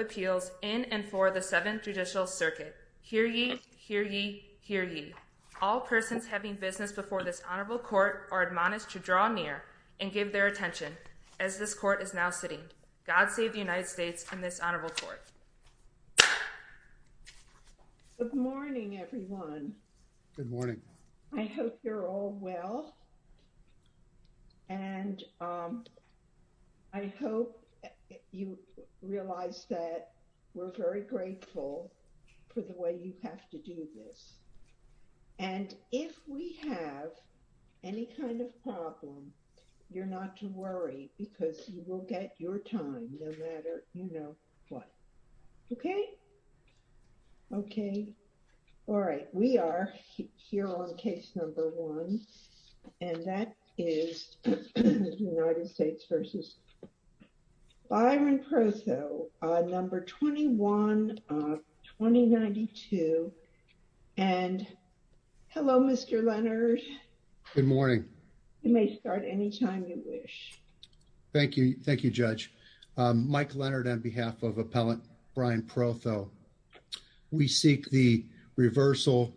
appeals in and for the Seventh Judicial Circuit. Hear ye, hear ye, hear ye. All persons having business before this honorable court are admonished to draw near and give their attention as this court is now sitting. God save the United States and this honorable court. Good morning, everyone. Good morning. I hope you're all well. And I hope you realize that we're very grateful for the way you have to do this. And if we have any kind of problem, you're not to worry because you will get your time no matter, you know, what. Okay? Okay. All right. We are here on case number one. And that is United States v. Byron Protho, number 21 of 2092. And hello, Mr. Leonard. Good morning. You may start anytime you wish. Thank you. Thank you, Judge. Mike Leonard on behalf of Appellant Brian Protho. We seek the reversal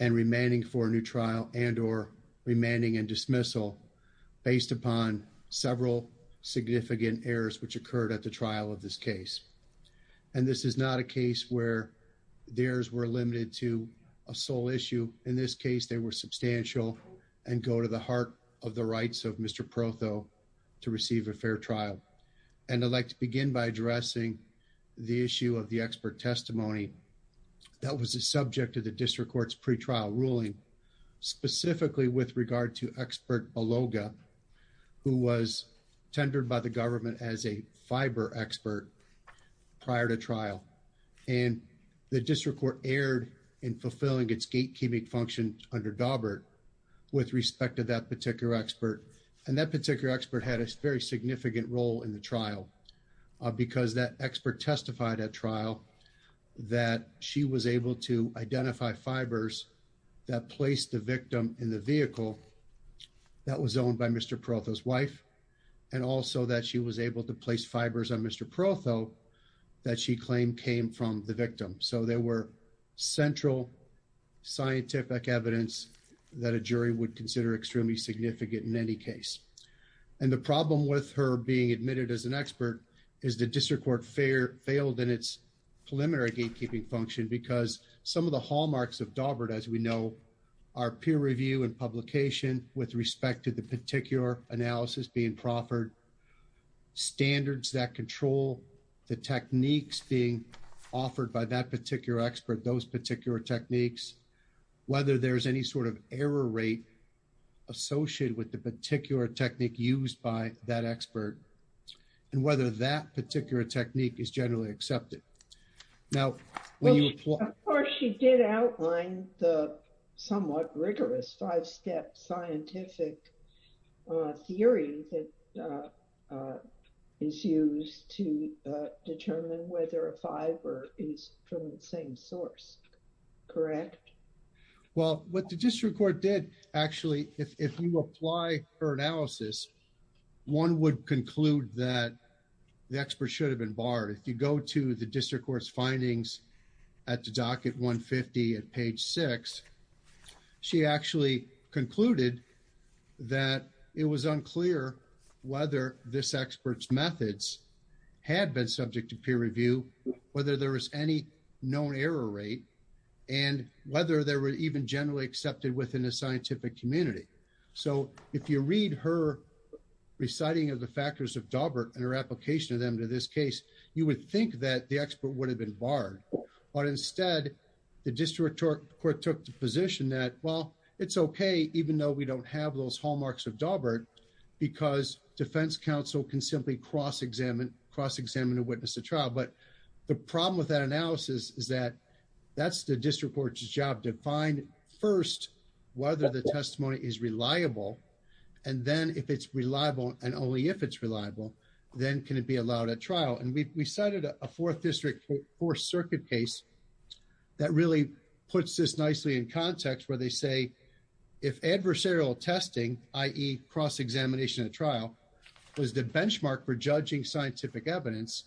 and remanding for a new trial and or remanding and dismissal based upon several significant errors which occurred at the trial of this case. And this is not a case where the errors were limited to a sole issue. In this case, they were substantial and go to the heart of the rights of Mr. Protho to receive a fair trial. And I'd like to begin by addressing the issue of the expert testimony that was the subject of the district court's pretrial ruling, specifically with regard to expert Beloga, who was tendered by the government as a fiber expert prior to trial. And the district court erred in fulfilling its gatekeeping function under Daubert with respect to that particular expert. And that particular expert had a very significant role in the trial because that expert testified at trial that she was able to identify fibers that placed the victim in the vehicle that was owned by Mr. Protho's wife and also that she was able to place fibers on Mr. Protho that she claimed came from the victim. So there were central scientific evidence that a jury would consider extremely significant in any case. And the problem with her being admitted as an expert is the district court failed in its preliminary gatekeeping function because some of the hallmarks of Daubert, as we know, are peer review and publication with respect to the particular analysis being proffered, standards that control the techniques being offered by that particular expert, those particular techniques, whether there's any sort of error rate associated with the particular technique used by that expert, and whether that particular technique is generally accepted. Now, of course, she did outline the somewhat rigorous five-step scientific theory that is used to determine whether a fiber is from the same source. Correct? Well, what the district court did, actually, if you apply her analysis, one would conclude that the expert should have been barred. If you go to the district court's findings at the docket 150 at page 6, she actually concluded that it was unclear whether this expert's methods had been subject to peer review, whether there was any known error rate, and whether they were even generally accepted within the scientific community. So if you read her reciting of the factors of Daubert and her application of them to this case, you would think that the expert would have been barred. But instead, the district court took the position that, well, it's okay, even though we don't have those hallmarks of Daubert, because defense counsel can simply cross-examine a witness at trial. But the problem with that analysis is that that's the district court's job to find first whether the testimony is reliable, and then if it's reliable, and only if it's reliable, then can it be allowed at trial. And we cited a fourth district court circuit case that really puts this nicely in context, where they say, if adversarial testing, i.e. cross-examination at trial, was the benchmark for judging scientific evidence,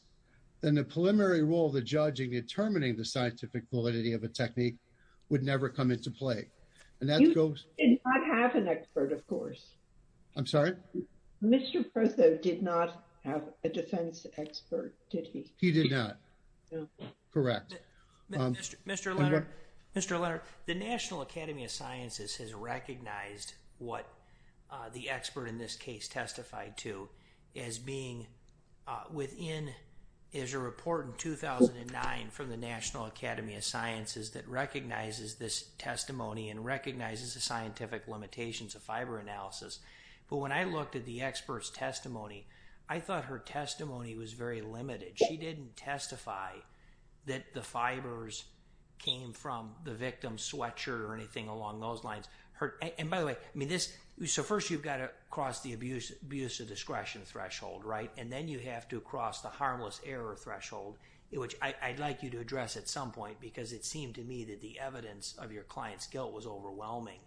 then the preliminary role of the judge in determining the scientific validity of a technique would never come into play. And that goes… And not have an expert, of course. I'm sorry? Mr. Prezzo did not have a defense expert, did he? He did not. Correct. Mr. Leonard, the National Academy of Sciences has recognized what the expert in this case testified to as being within, there's a report in 2009 from the National Academy of Sciences that recognizes this testimony and recognizes the scientific limitations of fiber analysis. But when I looked at the expert's testimony, I thought her testimony was very limited. She didn't testify that the fibers came from the victim's sweatshirt or anything along those lines. And by the way, I mean this… So first you've got to cross the abuse of discretion threshold, right? And then you have to cross the harmless error threshold, which I'd like you to address at some point, because it seemed to me that the evidence of your client's guilt was overwhelming,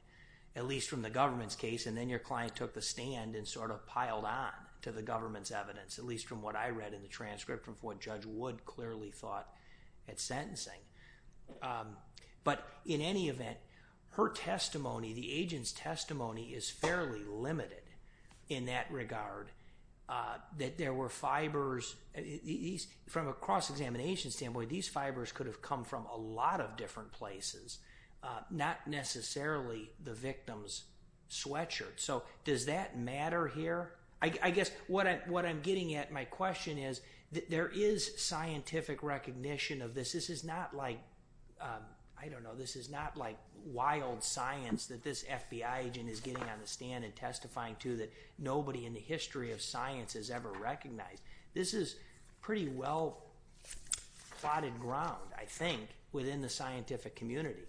at least from the government's case. And then your client took the stand and sort of piled on to the government's evidence, at least from what I read in the transcript, from what Judge Wood clearly thought at sentencing. But in any event, her testimony, the agent's testimony is fairly limited in that regard, that there were fibers… From a cross-examination standpoint, these fibers could have come from a lot of different places, not necessarily the victim's sweatshirt. So does that matter here? I guess what I'm getting at, my question is, there is scientific recognition of this. This is not like, I don't know, this is not like wild science that this FBI agent is getting on the stand and testifying to that nobody in the I think within the scientific community.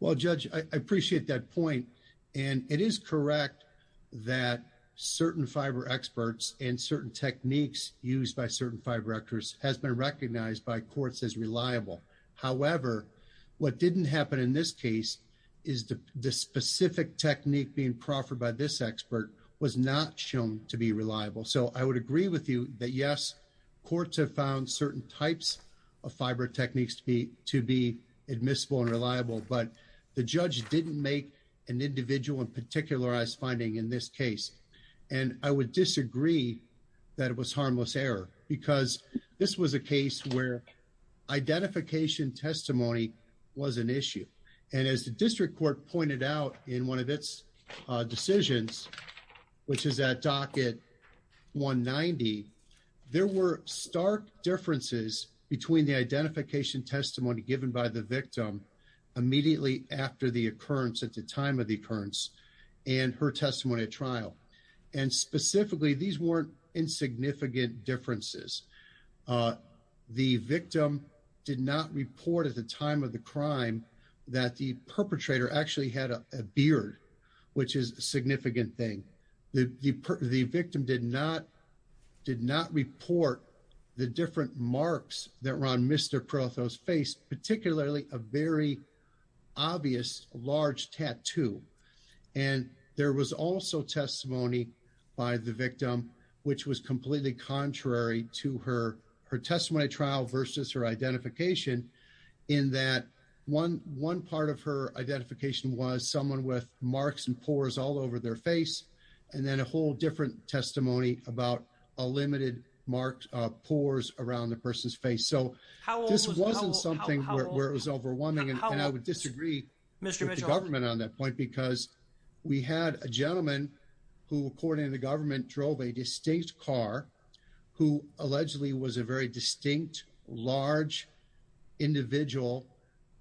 Well, Judge, I appreciate that point. And it is correct that certain fiber experts and certain techniques used by certain fiber actors has been recognized by courts as reliable. However, what didn't happen in this case is the specific technique being proffered by this expert was not shown to be reliable. So I would agree with you that yes, courts have found certain types of fiber techniques to be admissible and reliable, but the judge didn't make an individual and particularized finding in this case. And I would disagree that it was harmless error, because this was a case where identification testimony was an issue. And as the district court pointed out in one of its decisions, which is at docket 190, there were stark differences between the identification testimony given by the victim immediately after the occurrence at the time of the occurrence, and her testimony at trial. And specifically, these weren't insignificant differences. The victim did not report at the time of the crime that the perpetrator actually had a beard, which is a significant thing. The victim did not report the different marks that were on Mr. Perotho's face, particularly a very obvious large tattoo. And there was also testimony by the victim, which was completely contrary to her testimony trial versus her identification, in that one part of her identification was someone with marks and pores all over their face, and then a whole different testimony about a limited marked pores around the person's face. So this wasn't something where it was overwhelming. And I would disagree with the government on that point, because we had a gentleman who, according to the government, drove a distinct car, who allegedly was a very distinct, large, individual,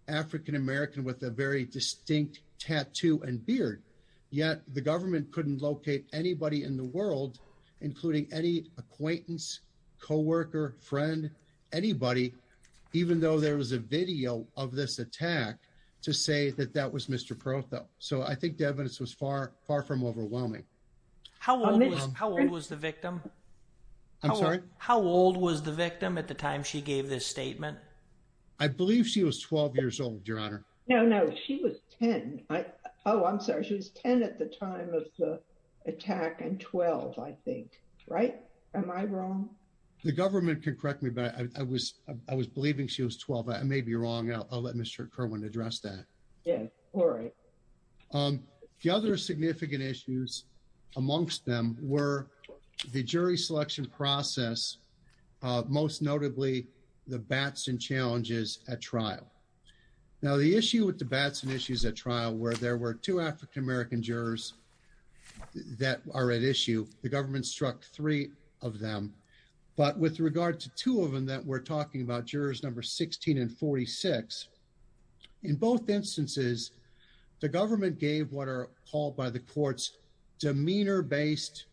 African American with a very distinct tattoo and beard. Yet the government couldn't locate anybody in the world, including any acquaintance, coworker, friend, anybody, even though there was a video of this attack to say that that was Mr. Perotho. So I think the evidence was far from overwhelming. How old was the victim? I'm sorry? How old was the victim at the time she gave this statement? I believe she was 12 years old, Your Honor. No, no, she was 10. Oh, I'm sorry. She was 10 at the time of the attack and 12, I think, right? Am I wrong? The government can correct me, but I was, I was believing she was 12. I may be wrong. I'll let Mr. Kerwin address that. Yeah, all right. The other significant issues amongst them were the jury selection process, most notably the bats and challenges at trial. Now the issue with the bats and issues at trial where there were two African American jurors that are at issue, the government struck three of them. But with regard to two of them that we're talking about, 16 and 46, in both instances, the government gave what are called by the courts, demeanor-based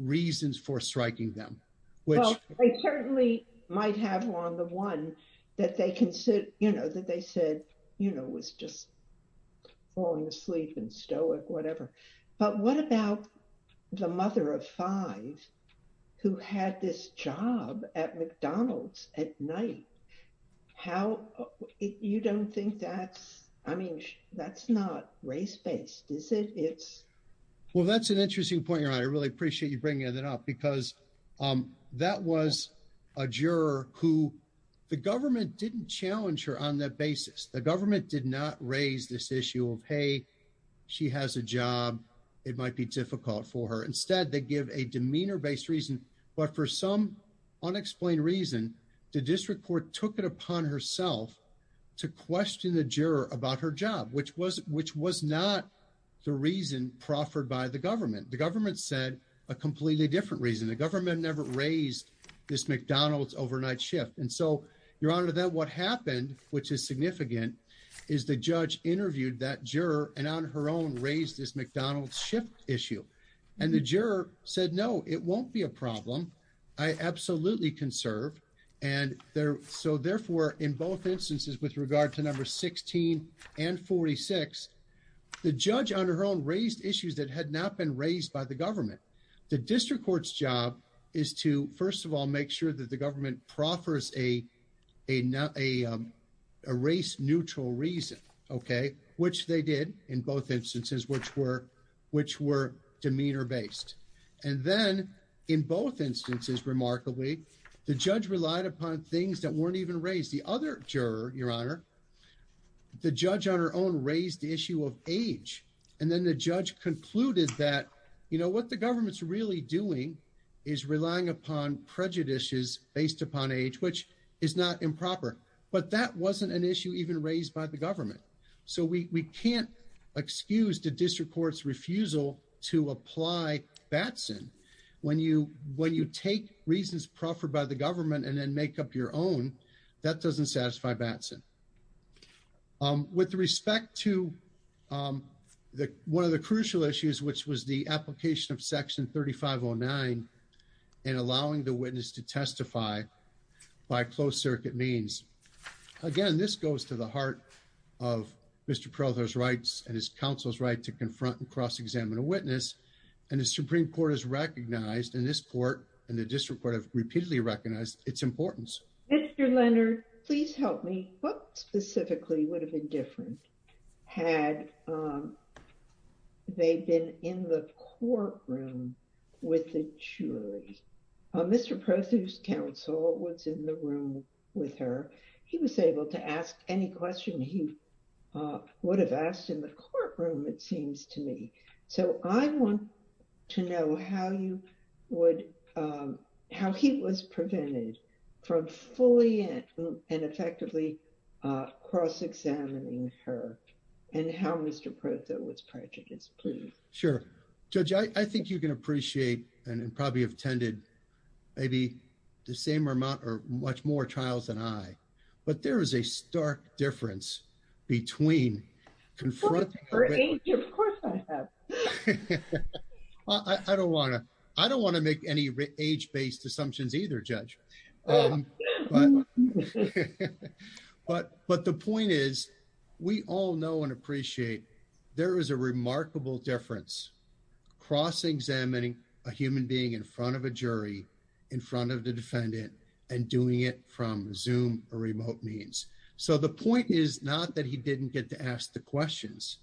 reasons for striking them. Well, they certainly might have on the one that they can sit, you know, that they said, you know, was just falling asleep and stoic, whatever. But what about the mother of five who had this job at McDonald's at night? How, you don't think that's, I mean, that's not race-based, is it? Well, that's an interesting point, Your Honor. I really appreciate you bringing that up because that was a juror who the government didn't challenge her on that basis. The government did not raise this issue of, hey, she has a job, it might be difficult for her. Instead, they give a demeanor-based reason. But for some unexplained reason, the district court took it upon herself to question the juror about her job, which was not the reason proffered by the government. The government said a completely different reason. The government never raised this McDonald's overnight shift. And so, Your Honor, that what is significant is the judge interviewed that juror and on her own raised this McDonald's shift issue. And the juror said, no, it won't be a problem. I absolutely can serve. And so, therefore, in both instances with regard to number 16 and 46, the judge on her own raised issues that had not been raised by the government. The district court's job is to, first of all, make sure that the government proffers a race-neutral reason, which they did in both instances, which were demeanor-based. And then in both instances, remarkably, the judge relied upon things that weren't even raised. The other juror, Your Honor, the judge on her own raised the issue of age. And then the judge concluded that what the government's really doing is relying upon prejudices based upon age, which is not improper. But that wasn't an issue even raised by the government. So we can't excuse the district court's refusal to apply Batson when you take reasons proffered by the government and then make up your own. That doesn't satisfy Batson. With respect to one of the crucial issues, which was the application of Section 3509 and allowing the witness to testify by closed-circuit means. Again, this goes to the heart of Mr. Peralta's rights and his counsel's right to confront and cross-examine a witness. And the Supreme Court has recognized, and this court and the district court have repeatedly recognized, its importance. Mr. Leonard, please help me. What specifically would have been different had they been in the courtroom with the jury? Mr. Prothew's counsel was in the room with her. He was able to ask any question he would have asked in the courtroom, it seems to me. So I want to know how you would, how he was prevented from fully and effectively cross-examining her and how Mr. Prothew was prevented. Please. Sure. Judge, I think you can appreciate and probably have attended maybe the same amount or much more trials than I, but there is a stark difference between confronting... Of course I have. I don't want to make any age-based assumptions either, Judge. But the point is, we all know and appreciate there is a remarkable difference cross-examining a human being in front of a jury, in front of the defendant, and doing it from Zoom or remote means. So the point is not that he didn't get to ask the questions.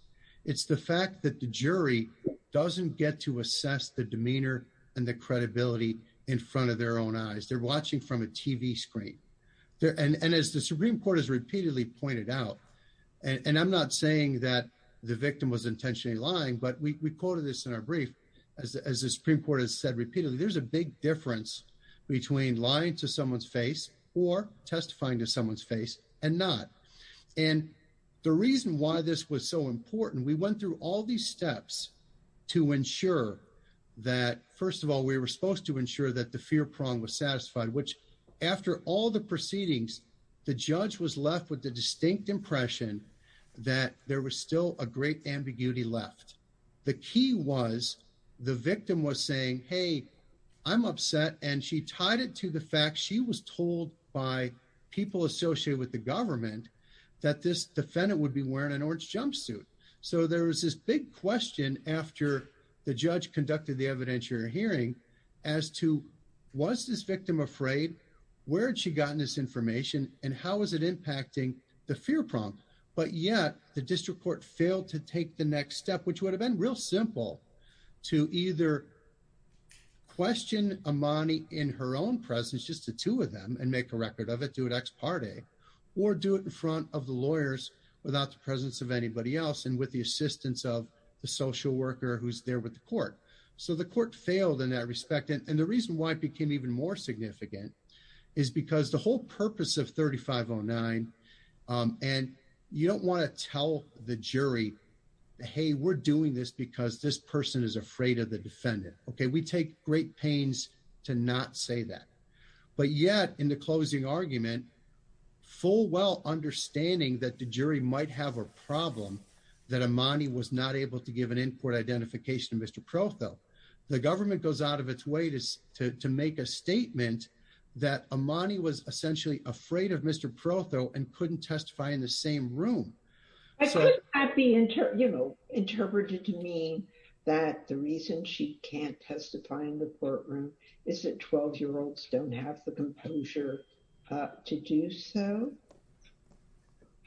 It's the fact that the jury doesn't get to assess the demeanor and the credibility in front of their own eyes. They're watching from a TV screen. And as the Supreme Court has repeatedly pointed out, and I'm not saying that the victim was intentionally lying, but we quoted this in our brief, as the Supreme Court has said repeatedly, there's a big difference between lying to someone's face or testifying to someone's face and not. And the reason why this was so important, we went through all these steps to ensure that, first of all, we were supposed to ensure that the fear was satisfied, which after all the proceedings, the judge was left with the distinct impression that there was still a great ambiguity left. The key was the victim was saying, hey, I'm upset. And she tied it to the fact she was told by people associated with the government that this defendant would be wearing an orange jumpsuit. So there was this big question after the judge conducted the evidentiary hearing as to, was this victim afraid? Where had she gotten this information? And how is it impacting the fear prompt? But yet the district court failed to take the next step, which would have been real simple to either question Amani in her own presence, just the two of them, and make a record of it, do it ex parte, or do it in front of the lawyers without the presence of anybody else and with the assistance of the social worker who's there with the court. So the court failed in that respect. And the reason why it became even more significant is because the whole purpose of 3509, and you don't want to tell the jury, hey, we're doing this because this person is afraid of the defendant. Okay, we take great pains to not say that. But yet in the closing argument, full well understanding that the jury might have a problem that Amani was not able to give an in-court identification to Mr. Protho. The government goes out of its way to make a statement that Amani was essentially afraid of Mr. Protho and couldn't testify in the same room. I could not be interpreted to mean that the reason she can't testify in the courtroom is that 12-year-olds don't have the composure to do so.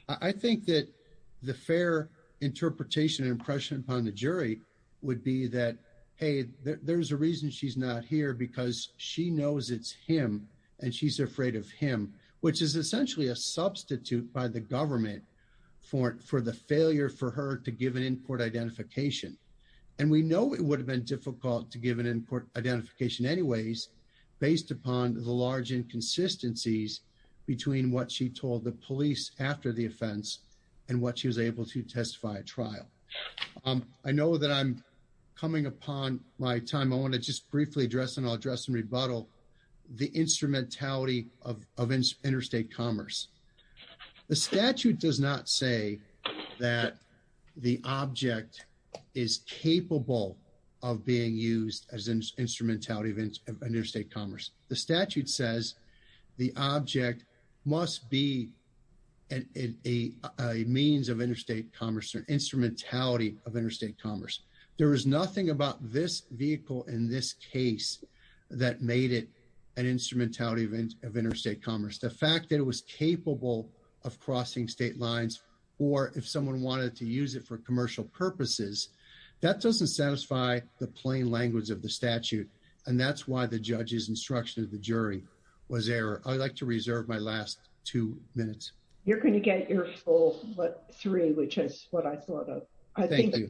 I think that the fair interpretation and impression upon the jury would be that, hey, there's a reason she's not here because she knows it's him and she's afraid of him, which is essentially a substitute by the government for the failure for her to give an in-court identification. And we know it would have been difficult to give an in-court identification anyways, based upon the large inconsistencies between what she told the police after the offense and what she was able to testify at trial. I know that I'm coming upon my time. I want to just briefly address and I'll address and rebuttal the instrumentality of interstate commerce. The statute does not say that the object is capable of being used as an instrumentality of interstate commerce. The statute says the object must be a means of interstate commerce or instrumentality of interstate commerce. There is nothing about this vehicle in this case that made it an instrumentality of interstate commerce. The fact that it was capable of crossing state lines or if someone wanted to use it for commercial purposes, that doesn't satisfy the plain language of the statute. And that's why the judge's instruction of the jury was error. I'd like to reserve my last two minutes. You're going to get your full three, which is what I thought of. Thank you.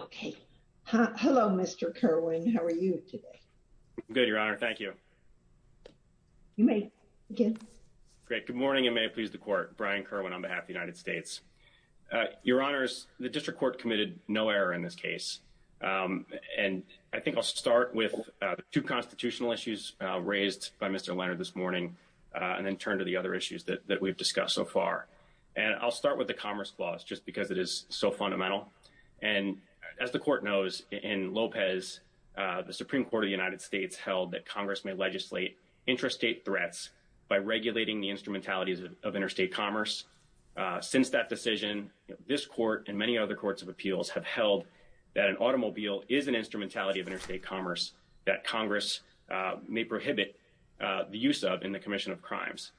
Okay. Hello, Mr. Kerwin. How are you today? Good, Your Honor. Thank you. You may begin. Great. Good morning and may it please the court. Brian Kerwin on behalf of the United States. Your Honors, the district court committed no error in this case. And I think I'll start with two constitutional issues raised by Mr. Leonard this morning and then turn to the other issues that we've discussed so far. And I'll start with the commerce clause just because it is so fundamental. And as the court knows in Lopez, the Supreme Court of the United States held that Congress may legislate interstate threats by regulating the instrumentality of interstate commerce. Since that decision, this court and many other courts of appeals have held that an automobile is an instrumentality of interstate commerce that Congress may prohibit the use of in the commission of crimes.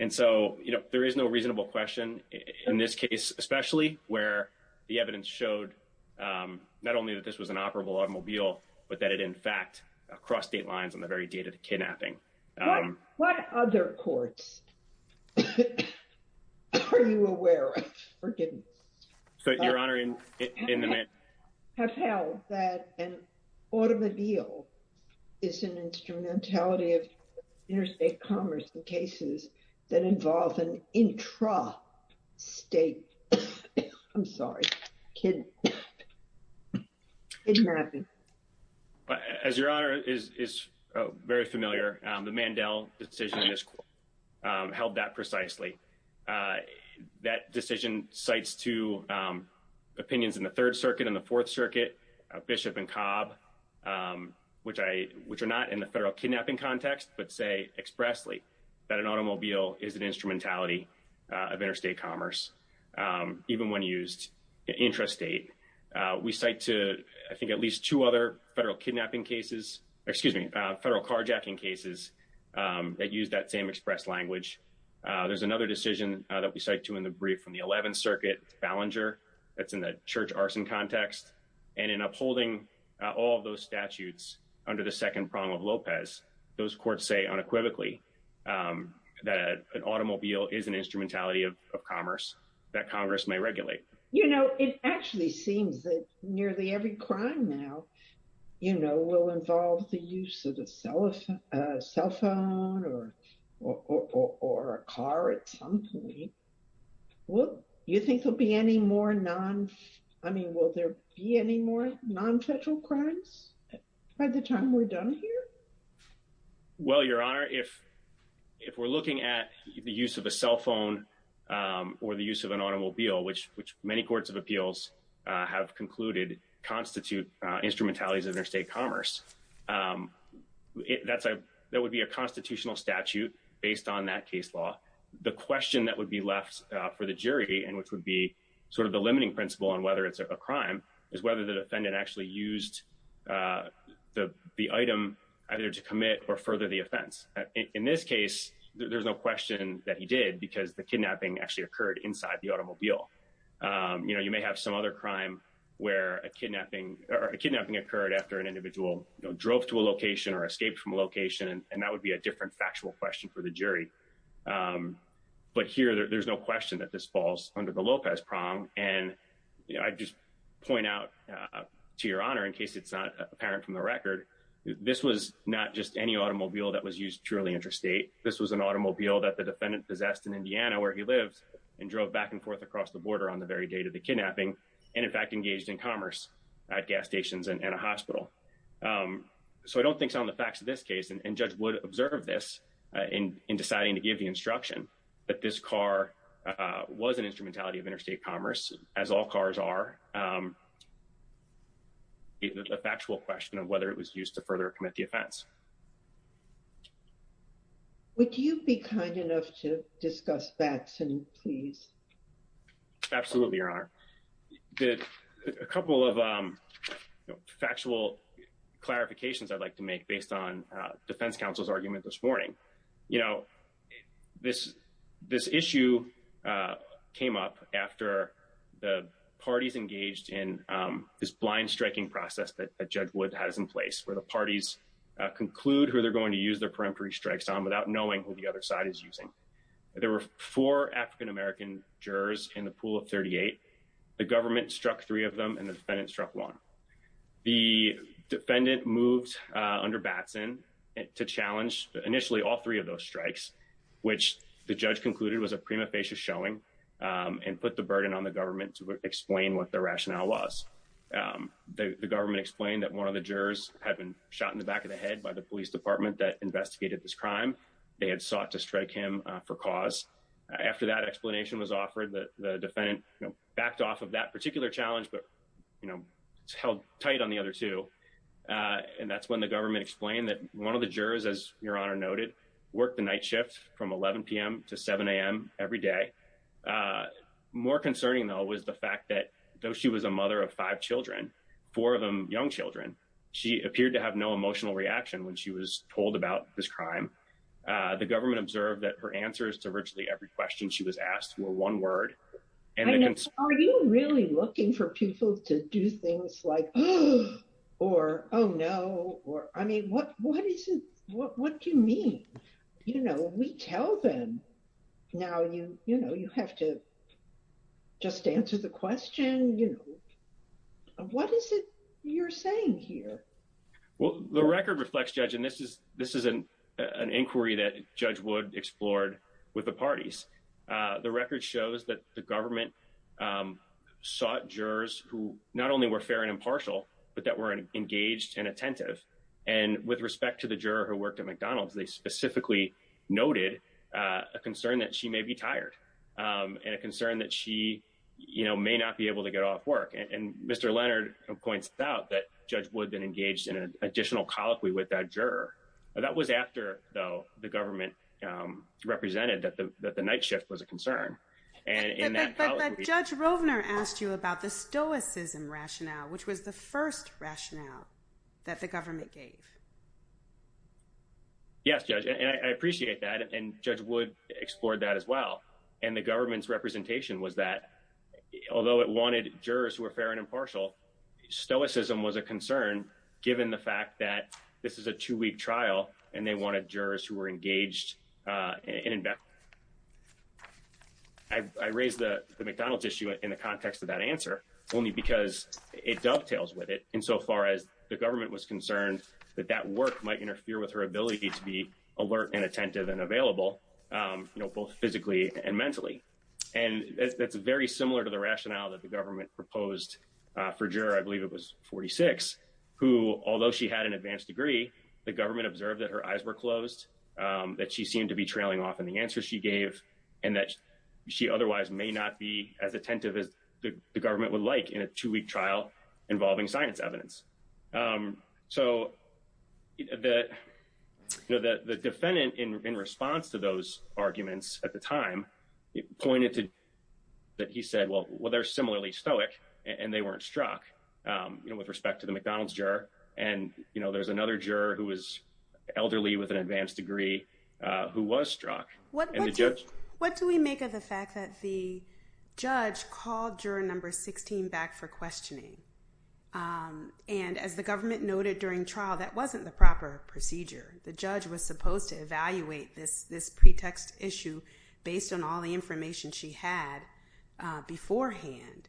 And so, you know, there is no reasonable question in this case, especially where the evidence showed not only that this was an operable automobile, but that it in fact crossed state lines on the very date of What other courts are you aware of, forgive me? Your Honor, have held that an automobile is an instrumentality of interstate commerce in cases that involve an intra-state. I'm sorry. Kid. As Your Honor is very familiar, the Mandel decision in this court held that precisely. That decision cites two opinions in the Third Circuit and the Fourth Circuit, Bishop and Cobb, which are not in the federal kidnapping context, but say expressly that an automobile is an intrastate. We cite to, I think, at least two other federal kidnapping cases, excuse me, federal carjacking cases that use that same express language. There's another decision that we cite to in the brief from the Eleventh Circuit, Ballinger, that's in the church arson context. And in upholding all of those statutes under the second prong of Lopez, those courts say unequivocally that an automobile is an instrumentality of commerce that Congress may actually seems that nearly every crime now, you know, will involve the use of a cell phone or a car at some point. Well, you think there'll be any more non, I mean, will there be any more non-federal crimes by the time we're done here? Well, Your Honor, if we're looking at the use of a cell phone or the use of an automobile, which many courts of appeals have concluded constitute instrumentalities of interstate commerce, that would be a constitutional statute based on that case law. The question that would be left for the jury and which would be sort of the limiting principle on whether it's a crime is whether the defendant actually used the item either to commit or further the offense. In this case, there's no question that he did because the kidnapping actually occurred inside the automobile. You know, you may have some other crime where a kidnapping or a kidnapping occurred after an individual drove to a location or escaped from a location, and that would be a different factual question for the jury. But here, there's no question that this falls under the Lopez prong. And I just point out to Your Honor, in case it's not apparent from the record, this was not just any automobile that was used purely interstate. This was an automobile that the across the border on the very day of the kidnapping and in fact engaged in commerce at gas stations and a hospital. So I don't think it's on the facts of this case, and Judge Wood observed this in deciding to give the instruction that this car was an instrumentality of interstate commerce, as all cars are, a factual question of whether it was used to further commit the offense. Would you be kind enough to discuss that, please? Absolutely, Your Honor. A couple of factual clarifications I'd like to make based on defense counsel's argument this morning. You know, this issue came up after the parties engaged in this blind striking process that Judge Wood has in place, where the parties conclude who they're going to use their peremptory strikes on without knowing who the other side is using. There were four African-American jurors in the pool of 38. The government struck three of them, and the defendant struck one. The defendant moved under Batson to challenge initially all three of those strikes, which the judge concluded was a prima facie showing and put the burden on the rationale was. The government explained that one of the jurors had been shot in the back of the head by the police department that investigated this crime. They had sought to strike him for cause. After that explanation was offered, the defendant backed off of that particular challenge, but, you know, held tight on the other two. And that's when the government explained that one of the jurors, as Your Honor noted, worked the night shift from 11 p.m. to 7 a.m. every day. Uh, more concerning, though, was the fact that though she was a mother of five children, four of them young children, she appeared to have no emotional reaction when she was told about this crime. Uh, the government observed that her answers to virtually every question she was asked were one word. Are you really looking for people to do things like, oh, or, oh, no, or, I mean, what, you know, you have to just answer the question, you know. What is it you're saying here? Well, the record reflects, Judge, and this is, this is an inquiry that Judge Wood explored with the parties. Uh, the record shows that the government, um, sought jurors who not only were fair and impartial, but that were engaged and attentive. And with respect to the juror who they specifically noted, uh, a concern that she may be tired, um, and a concern that she, you know, may not be able to get off work. And, and Mr. Leonard points out that Judge Wood then engaged in an additional colloquy with that juror. That was after, though, the government, um, represented that the, that the night shift was a concern. And in that, Judge Rovner asked you about the stoicism rationale, which was the first rationale that the government gave. Yes, Judge, and I, I appreciate that, and Judge Wood explored that as well. And the government's representation was that, although it wanted jurors who were fair and impartial, stoicism was a concern given the fact that this is a two-week trial, and they wanted jurors who were engaged, uh, in, in. I, I raised the, the McDonald's issue in the context of that answer, only because it dovetails with it insofar as the government was concerned that that work might interfere with her ability to be alert and attentive and available, um, you know, both physically and mentally. And that's, that's very similar to the rationale that the government proposed, uh, for juror, I believe it was 46, who, although she had an advanced degree, the government observed that her eyes were closed, um, that she seemed to be trailing off in the answer she gave, and that she otherwise may not be as attentive as the, the government would like in a two-week trial involving science evidence. Um, so, the, you know, the, the defendant in, in response to those arguments at the time, pointed to that he said, well, well, they're similarly stoic, and they weren't struck, um, you know, with respect to the McDonald's juror. And, you know, there's another juror who was struck, and the judge. What, what do we make of the fact that the judge called juror number 16 back for questioning? Um, and as the government noted during trial, that wasn't the proper procedure. The judge was supposed to evaluate this, this pretext issue based on all the information she had, uh, beforehand.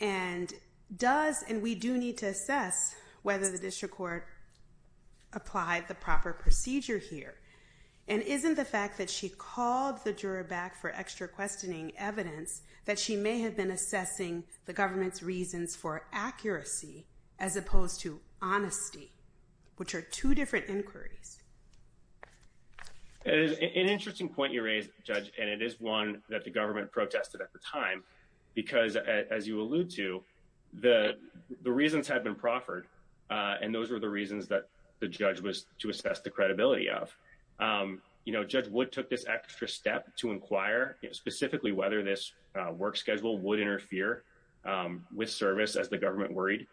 And does, and we do need to assess whether the district court applied the proper procedure here. And isn't the fact that she called the juror back for extra questioning evidence, that she may have been assessing the government's reasons for accuracy, as opposed to honesty, which are two different inquiries. It is an interesting point you raised, Judge, and it is one that the government protested at the time, because as you allude to, the, the reasons had been proffered, uh, and those were the reasons that the judge was to assess the credibility of, um, you know, judge would took this extra step to inquire specifically whether this, uh, work schedule would interfere, um, with service as the government worried.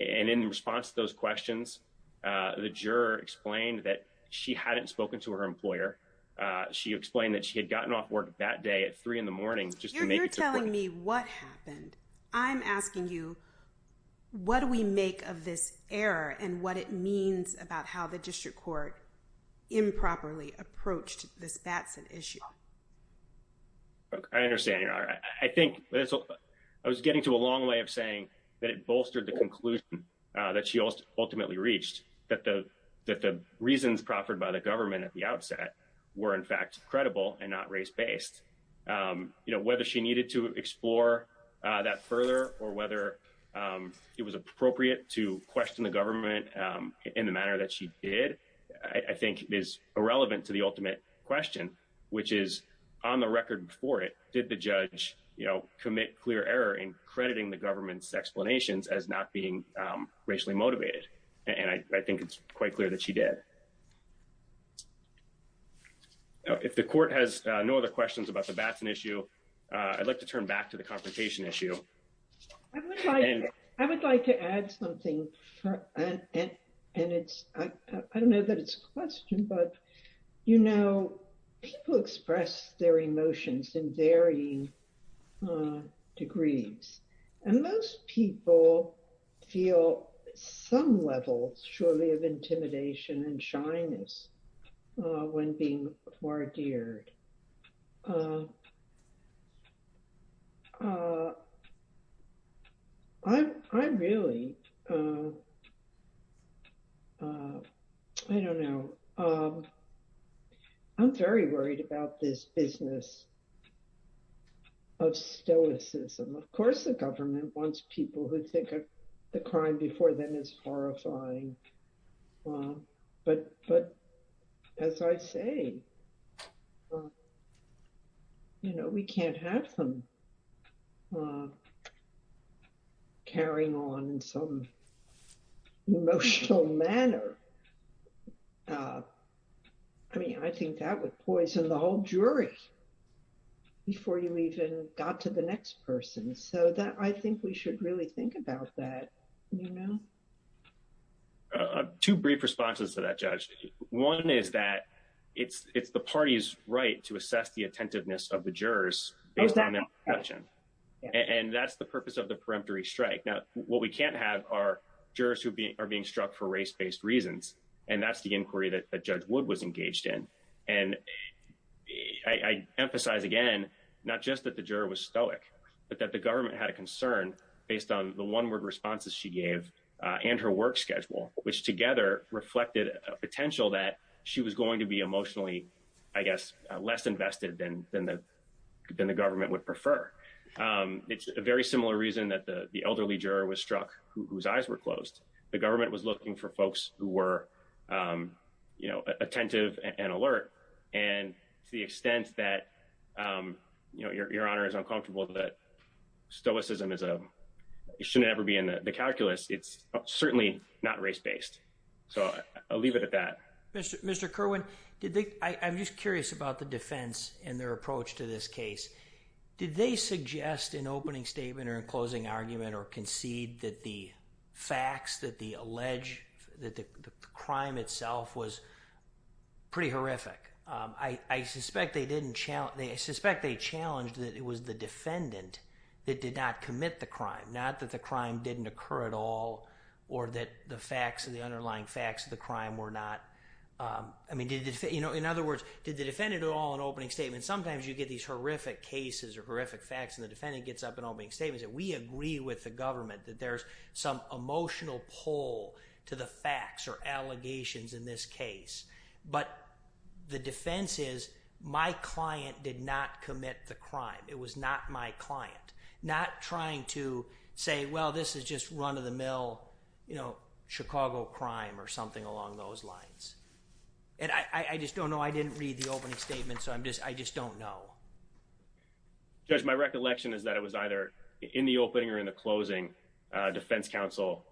And in response to those questions, uh, the juror explained that she hadn't spoken to her employer. Uh, she explained that she had gotten off work that day at three in the morning, just to make me what happened. I'm asking you, what do we make of this error and what it means about how the district court improperly approached this Batson issue? I understand your honor. I think I was getting to a long way of saying that it bolstered the conclusion, uh, that she ultimately reached that the, that the reasons proffered by the government at the outset were in fact credible and not race-based. Um, you know, whether she needed to in the manner that she did, I think is irrelevant to the ultimate question, which is on the record before it, did the judge, you know, commit clear error in crediting the government's explanations as not being, um, racially motivated. And I think it's quite clear that she did. If the court has no other questions about the Batson issue, uh, I'd like to turn back to the confrontation issue. I would like, I would like to add something and, and it's, I, I don't know that it's a question, but, you know, people express their emotions in varying, uh, degrees and most people feel some level, surely, of intimidation and shyness, uh, when being wardered. Uh, I, I really, uh, uh, I don't know. Um, I'm very worried about this business of stoicism. Of course, the government wants people who think the crime before them is horrifying. Um, but, but as I say, um, you know, we can't have them, uh, carrying on in some emotional manner. Uh, I mean, I think that would poison the whole jury. Before you even got to the next person. So that I think we should really think about that. Two brief responses to that judge. One is that it's, it's the party's right to assess the attentiveness of the jurors based on their perception. And that's the purpose of the peremptory strike. Now, what we can't have are jurors who are being struck for race-based reasons. And that's the inquiry that Judge Wood was engaged in. And I emphasize again, not just that the juror was stoic, but that the government had a concern based on the one-word responses she gave, uh, and her work schedule, which together reflected a potential that she was going to be emotionally, I guess, less invested than, than the, than the government would prefer. Um, it's a very similar reason that the, the elderly juror was struck whose eyes were closed. The government was looking for folks who were, um, you know, attentive and alert. And to the extent that, um, you know, your, your honor is uncomfortable that stoicism is a, you shouldn't ever be in the calculus. It's certainly not race-based. So I'll leave it at that. Mr. Kerwin, did they, I'm just curious about the defense and their approach to this case. Did they suggest an opening statement or a closing argument or concede that the facts that the alleged, that the crime itself was pretty horrific? Um, I, I suspect they didn't challenge, I suspect they challenged that it was the defendant that did not commit the crime, not that the crime didn't occur at all, or that the facts and the underlying facts of the crime were not, um, I mean, did, you know, in other words, did the defendant at all in opening statements, sometimes you get these horrific cases or horrific facts and the defendant gets up and opening statements that we agree with the government, that there's some emotional pull to the facts or allegations in this case. But the defense is my client did not commit the crime. It was not my client, not trying to say, well, this is just run of the mill, you know, Chicago crime or something along those lines. And I, I just don't know. I didn't read the opening statement. So I'm just, I just don't know. Judge, my recollection is that it was either in the opening or in the closing, uh, defense counsel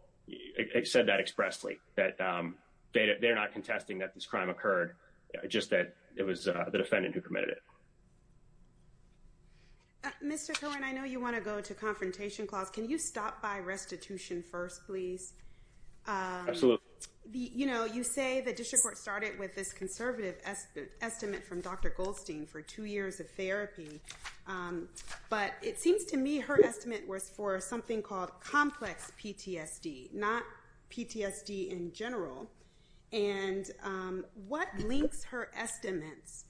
said that expressly that, um, data, they're not contesting that this crime occurred, just that it was the defendant who committed it. Mr. Cohen, I know you want to go to confrontation clause. Can you stop by restitution first, please? Um, you know, you say the district court started with this conservative estimate from Dr. Goldstein for two years of therapy. Um, but it seems to me her estimate was for something called complex PTSD, not PTSD in general. And, um, what links her estimates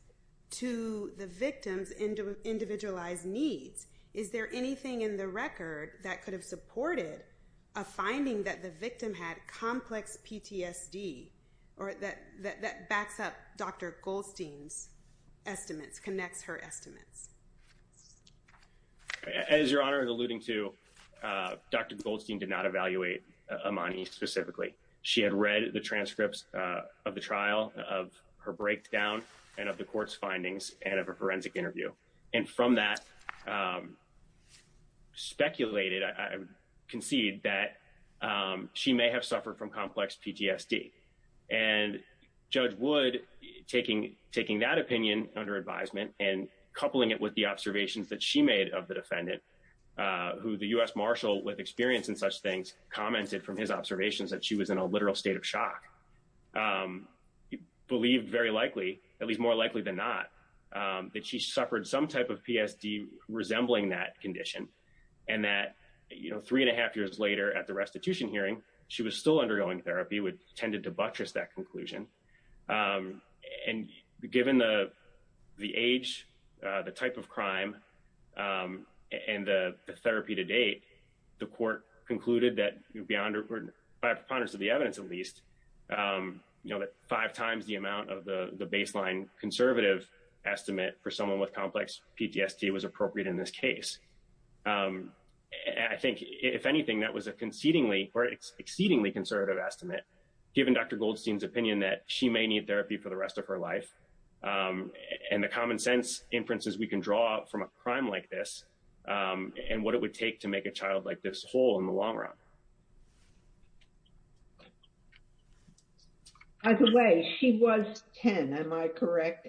to the victims into individualized needs? Is there anything in the record that could have supported a finding that the victim had complex PTSD or that, that, that backs up Dr. Goldstein's estimates connects her estimates as your honor and alluding to, uh, Dr. Goldstein did not evaluate Amani specifically. She had read the transcripts of the trial of her breakdown and of the court's findings and interview. And from that, um, speculated, I concede that, um, she may have suffered from complex PTSD and judge would taking, taking that opinion under advisement and coupling it with the observations that she made of the defendant, uh, who the U S Marshall with experience in such things commented from his observations that she was in a literal state of shock. Um, he believed very likely than not, um, that she suffered some type of PSD resembling that condition and that, you know, three and a half years later at the restitution hearing, she was still undergoing therapy would tended to buttress that conclusion. Um, and given the, the age, uh, the type of crime, um, and the therapy to date, the court concluded that beyond or by preponderance of the evidence, at you know, that five times the amount of the baseline conservative estimate for someone with complex PTSD was appropriate in this case. Um, I think if anything, that was a concedingly or exceedingly conservative estimate, given Dr. Goldstein's opinion that she may need therapy for the rest of her life. Um, and the common sense inferences we can draw from a crime like this, and what it would take to make a child like this whole in the long run. By the way, she was 10. Am I correct?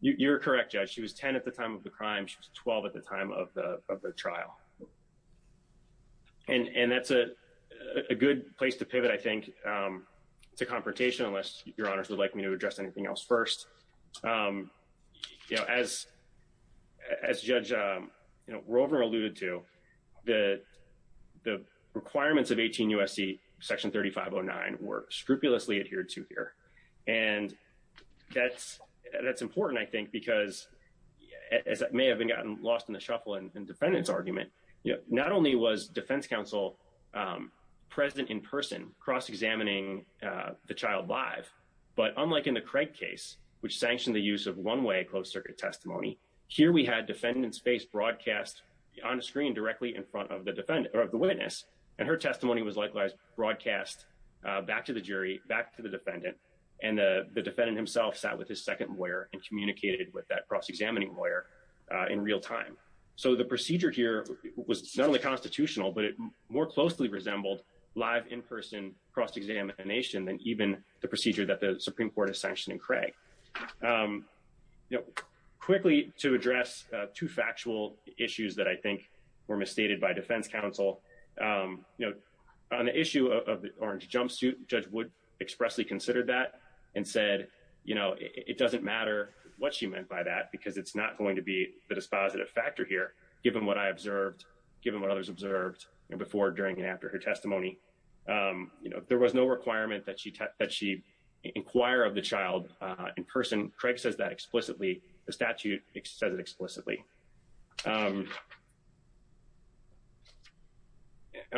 You're correct. Yeah. She was 10 at the time of the crime. She was 12 at the time of the, of the trial. And, and that's a good place to pivot. I think, um, it's a confrontation unless your honors would like me to address anything else first. Um, you know, as, as judge, um, Rover alluded to the, the requirements of 18 USC section 3509 were scrupulously adhered to here. And that's, that's important, I think, because as it may have been gotten lost in the shuffle and dependence argument, not only was defense counsel, um, present in person cross-examining, uh, the child live, but unlike in the Craig case, which sanctioned the use of one way closed testimony here, we had defendant's face broadcast on a screen directly in front of the defendant or of the witness. And her testimony was likewise broadcast, uh, back to the jury, back to the defendant. And the defendant himself sat with his second lawyer and communicated with that cross-examining lawyer, uh, in real time. So the procedure here was not only constitutional, but it more closely resembled live in-person cross-examination than even the procedure that the Supreme court has sanctioned in Craig. Um, you know, quickly to address, uh, two factual issues that I think were misstated by defense counsel, um, you know, on the issue of the orange jumpsuit judge would expressly considered that and said, you know, it doesn't matter what she meant by that, because it's not going to be the dispositive factor here, given what I observed, given what others observed before, during, and after her testimony, um, you know, there was no inquire of the child, uh, in person. Craig says that explicitly, the statute says it explicitly. Um,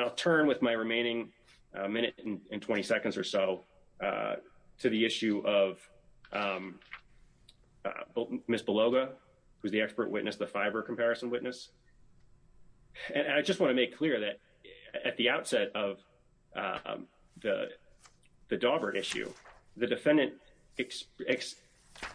I'll turn with my remaining a minute and 20 seconds or so, uh, to the issue of, um, Ms. Beloga, who's the expert witness, the fiber comparison witness. And I just want to make clear that at the outset of, um, the, the Daubert issue, the defendant,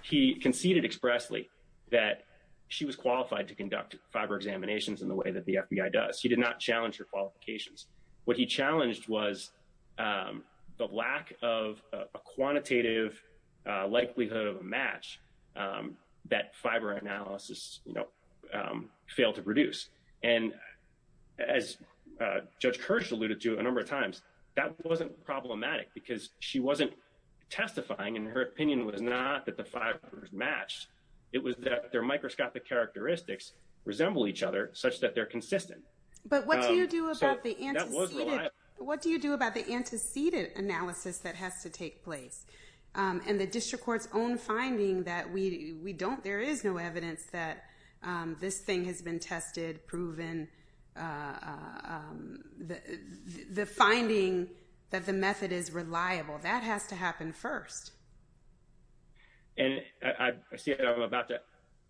he conceded expressly that she was qualified to conduct fiber examinations in the way that the FBI does. He did not challenge her qualifications. What he challenged was, um, the lack of a quantitative, uh, likelihood of a match, um, that fiber analysis, you know, um, to produce. And as, uh, judge Kirsch alluded to a number of times that wasn't problematic because she wasn't testifying. And her opinion was not that the five match, it was that their microscopic characteristics resemble each other such that they're consistent. But what do you do about the antecedent? What do you do about the antecedent analysis that has to take place? Um, and the district court's own finding that we, we don't, there is no evidence that, um, this thing has been tested, proven, uh, um, the, the finding that the method is reliable that has to happen first. And I see it. I'm about to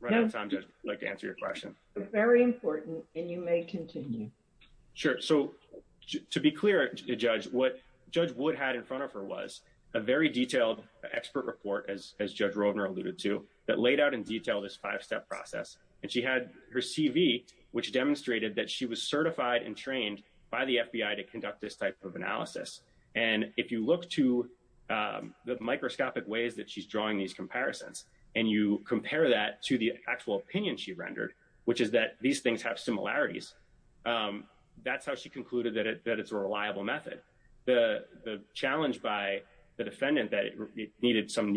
run out of time. Just like to answer your question. Very important. And you may continue. Sure. So to be clear, the judge, what judge would had in front of her was a very detailed expert report as, as judge Roedner alluded to that laid out in detail this five-step process. And she had her CV, which demonstrated that she was certified and trained by the FBI to conduct this type of analysis. And if you look to, um, the microscopic ways that she's drawing these comparisons and you compare that to the actual opinion she rendered, which is that these things have similarities. Um, that's how she concluded that it, that it's a reliable method. The, the challenge by the defendant that it needed some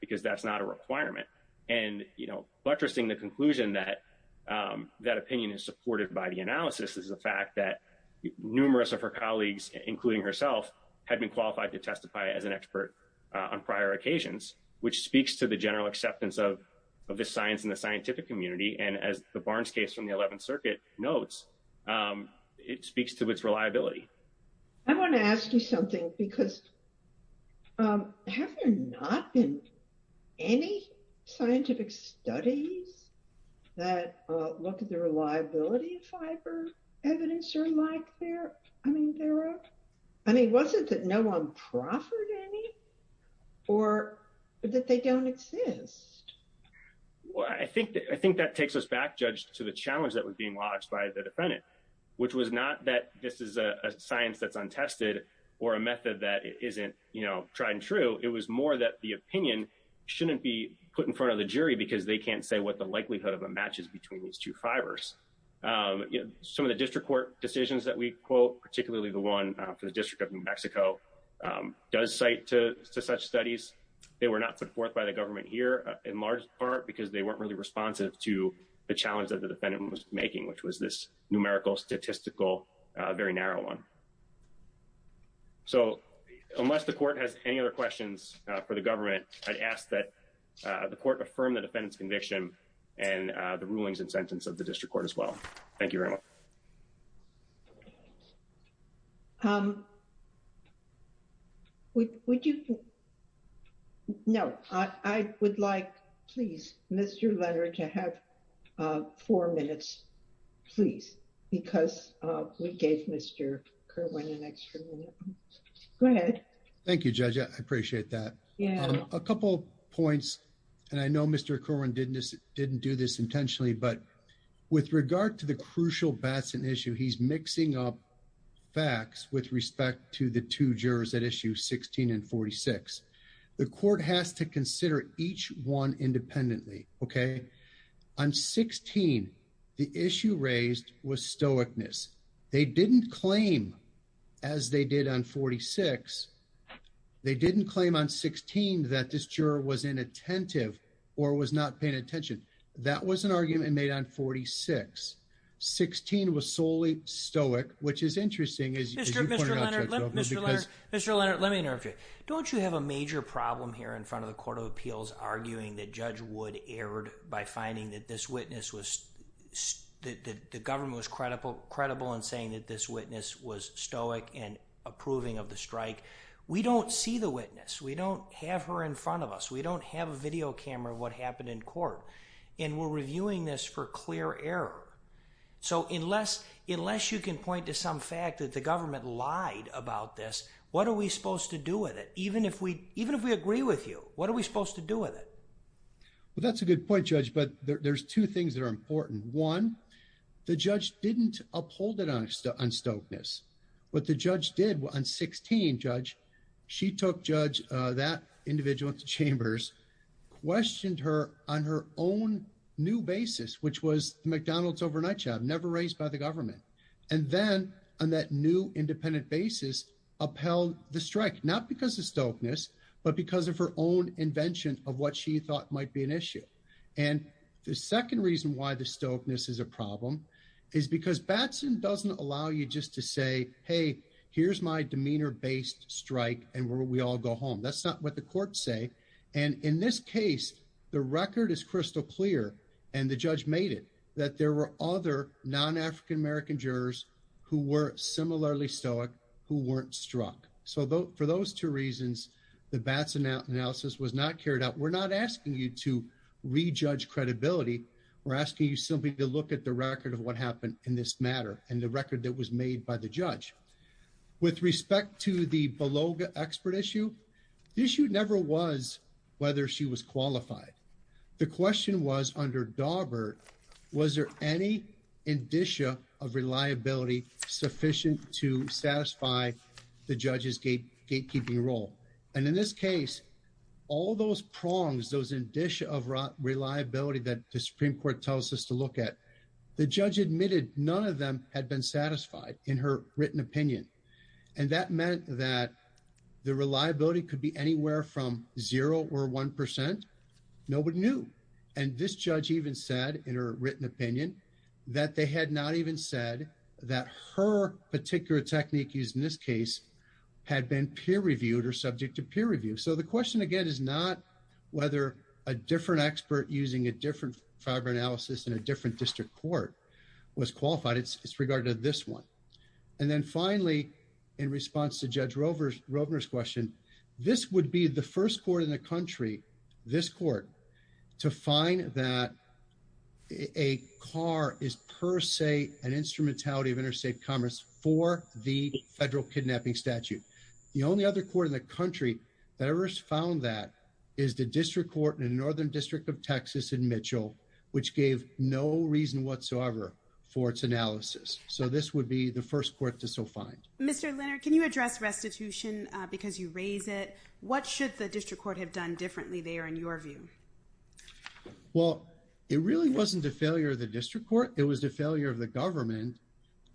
because that's not a requirement and, you know, buttressing the conclusion that, um, that opinion is supported by the analysis is the fact that numerous of her colleagues, including herself had been qualified to testify as an expert, uh, on prior occasions, which speaks to the general acceptance of, of the science and the scientific community. And as the Barnes case from the 11th circuit notes, um, it speaks to its reliability. I want to ask you something because, um, have there not been any scientific studies that, uh, look at the reliability of fiber evidence or like there, I mean, there are, I mean, wasn't that no one proffered any or that they don't exist? Well, I think that, I think that takes us back judged to the challenge that was being watched by the defendant, which was not that this is a science that's untested or a method that isn't, you know, tried and true. It was more that the opinion shouldn't be put in front of the jury because they can't say what the likelihood of a match is between these two fibers. Um, you know, some of the district court decisions that we quote, particularly the one for the district of New Mexico, um, does cite to, to such studies. They were not put forth by the government here in large part because they weren't really responsive to the challenge that the defendant was making, which was this numerical statistical, uh, very narrow one. So unless the court has any other questions for the government, I'd ask that, uh, the court affirm the defendant's conviction and, uh, the rulings and sentence of the district court as well. Thank you very much. Um, would you, no, I would like, please, Mr. Leonard to have, uh, four minutes, please. Because, uh, we gave Mr. Kerwin an extra minute. Go ahead. Thank you, Judge. I appreciate that. Yeah. A couple points. And I know Mr. Kerwin didn't do this intentionally, but with regard to crucial Batson issue, he's mixing up facts with respect to the two jurors at issue 16 and 46. The court has to consider each one independently. Okay. I'm 16. The issue raised was stoicness. They didn't claim as they did on 46. They didn't claim on 16 that this juror was inattentive or was not paying attention. That was an argument made on 46. 16 was solely stoic, which is interesting. Mr. Leonard, Mr. Leonard, Mr. Leonard, let me interrupt you. Don't you have a major problem here in front of the court of appeals arguing that Judge Wood erred by finding that this witness was, that the government was credible, credible in saying that this witness was stoic and approving of the strike. We don't see the witness. We don't have her in front of us. We don't have a video camera of what happened in court. And we're reviewing this for clear error. So unless, unless you can point to some fact that the government lied about this, what are we supposed to do with it? Even if we, even if we agree with you, what are we supposed to do with it? Well, that's a good point judge, but there's two things that are important. One, the judge didn't uphold it on stoicness. What the judge did on 16, judge, she took judge that individual to chambers, questioned her on her own new basis, which was McDonald's overnight job, never raised by the government. And then on that new independent basis upheld the strike, not because of stoicness, but because of her own invention of what she thought might be an issue. And the second reason why the stoicness is a problem is because Batson doesn't allow you just to say, Hey, here's my demeanor based strike. And we all go home. That's not what the court say. And in this case, the record is crystal clear. And the judge made it that there were other non-African American jurors who were similarly stoic, who weren't struck. So for those two reasons, the Batson analysis was not carried out. We're not asking you to rejudge credibility. We're asking you simply to look at the record of what happened in this matter and the record that was made by the judge. With respect to the Beloga expert issue, the issue never was whether she was qualified. The question was under Daubert, was there any indicia of reliability sufficient to satisfy the judge's gatekeeping role? And in this case, all those prongs, those indicia of reliability that the Supreme Court tells us to look at, the judge admitted none of them had been satisfied in her written opinion. And that meant that the reliability could be anywhere from zero or 1%. Nobody knew. And this judge even said in her written opinion that they had not even said that her particular technique used in this case had been peer reviewed or subject to peer review. So the question again is not whether a different expert using a different fiber analysis in a different district court was qualified. It's regarding to this one. And then finally, in response to Judge Rovner's question, this would be the first court in the country, this court, to find that a car is per se an instrumentality of interstate commerce for the federal kidnapping statute. The only other court in the country that ever found that is the district court in the Northern District of Texas in Mitchell, which gave no reason whatsoever for its analysis. So this would be the first court to so find. Mr. Leonard, can you address restitution because you raise it? What should the district court have done differently there in your view? Well, it really wasn't the failure of the district court. It was the failure of the government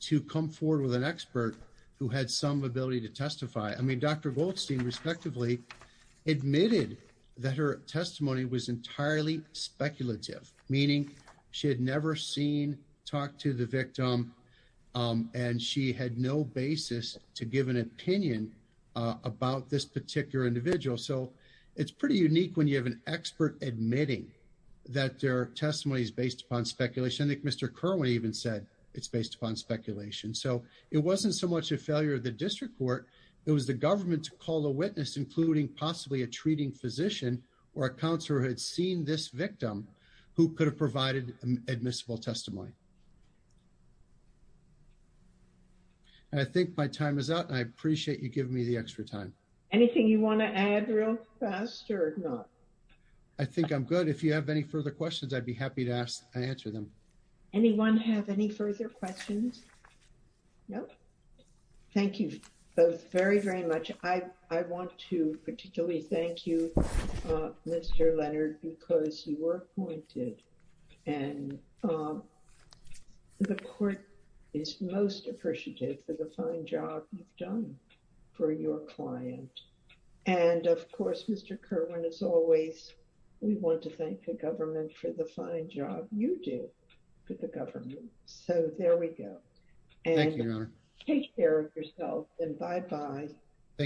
to come forward with an expert who had some ability to testify. I mean, Dr. Goldstein, respectively, admitted that her testimony was entirely speculative, meaning she had never seen, talked to the victim, and she had no basis to give an opinion about this particular individual. So it's pretty unique when you have an expert admitting that their testimony is based upon speculation. So it wasn't so much a failure of the district court. It was the government to call a witness, including possibly a treating physician or a counselor who had seen this victim who could have provided admissible testimony. I think my time is up. I appreciate you giving me the extra time. Anything you want to add real fast or not? I think I'm good. If you have any further questions, I'd be happy to answer them. Anyone have any further questions? No? Thank you both very, very much. I want to particularly thank you, Mr. Leonard, because you were appointed and the court is most appreciative for the fine job you've done for your client. And of course, Mr. Government for the fine job you do for the government. So there we go. Take care of yourself and bye bye. Thank you.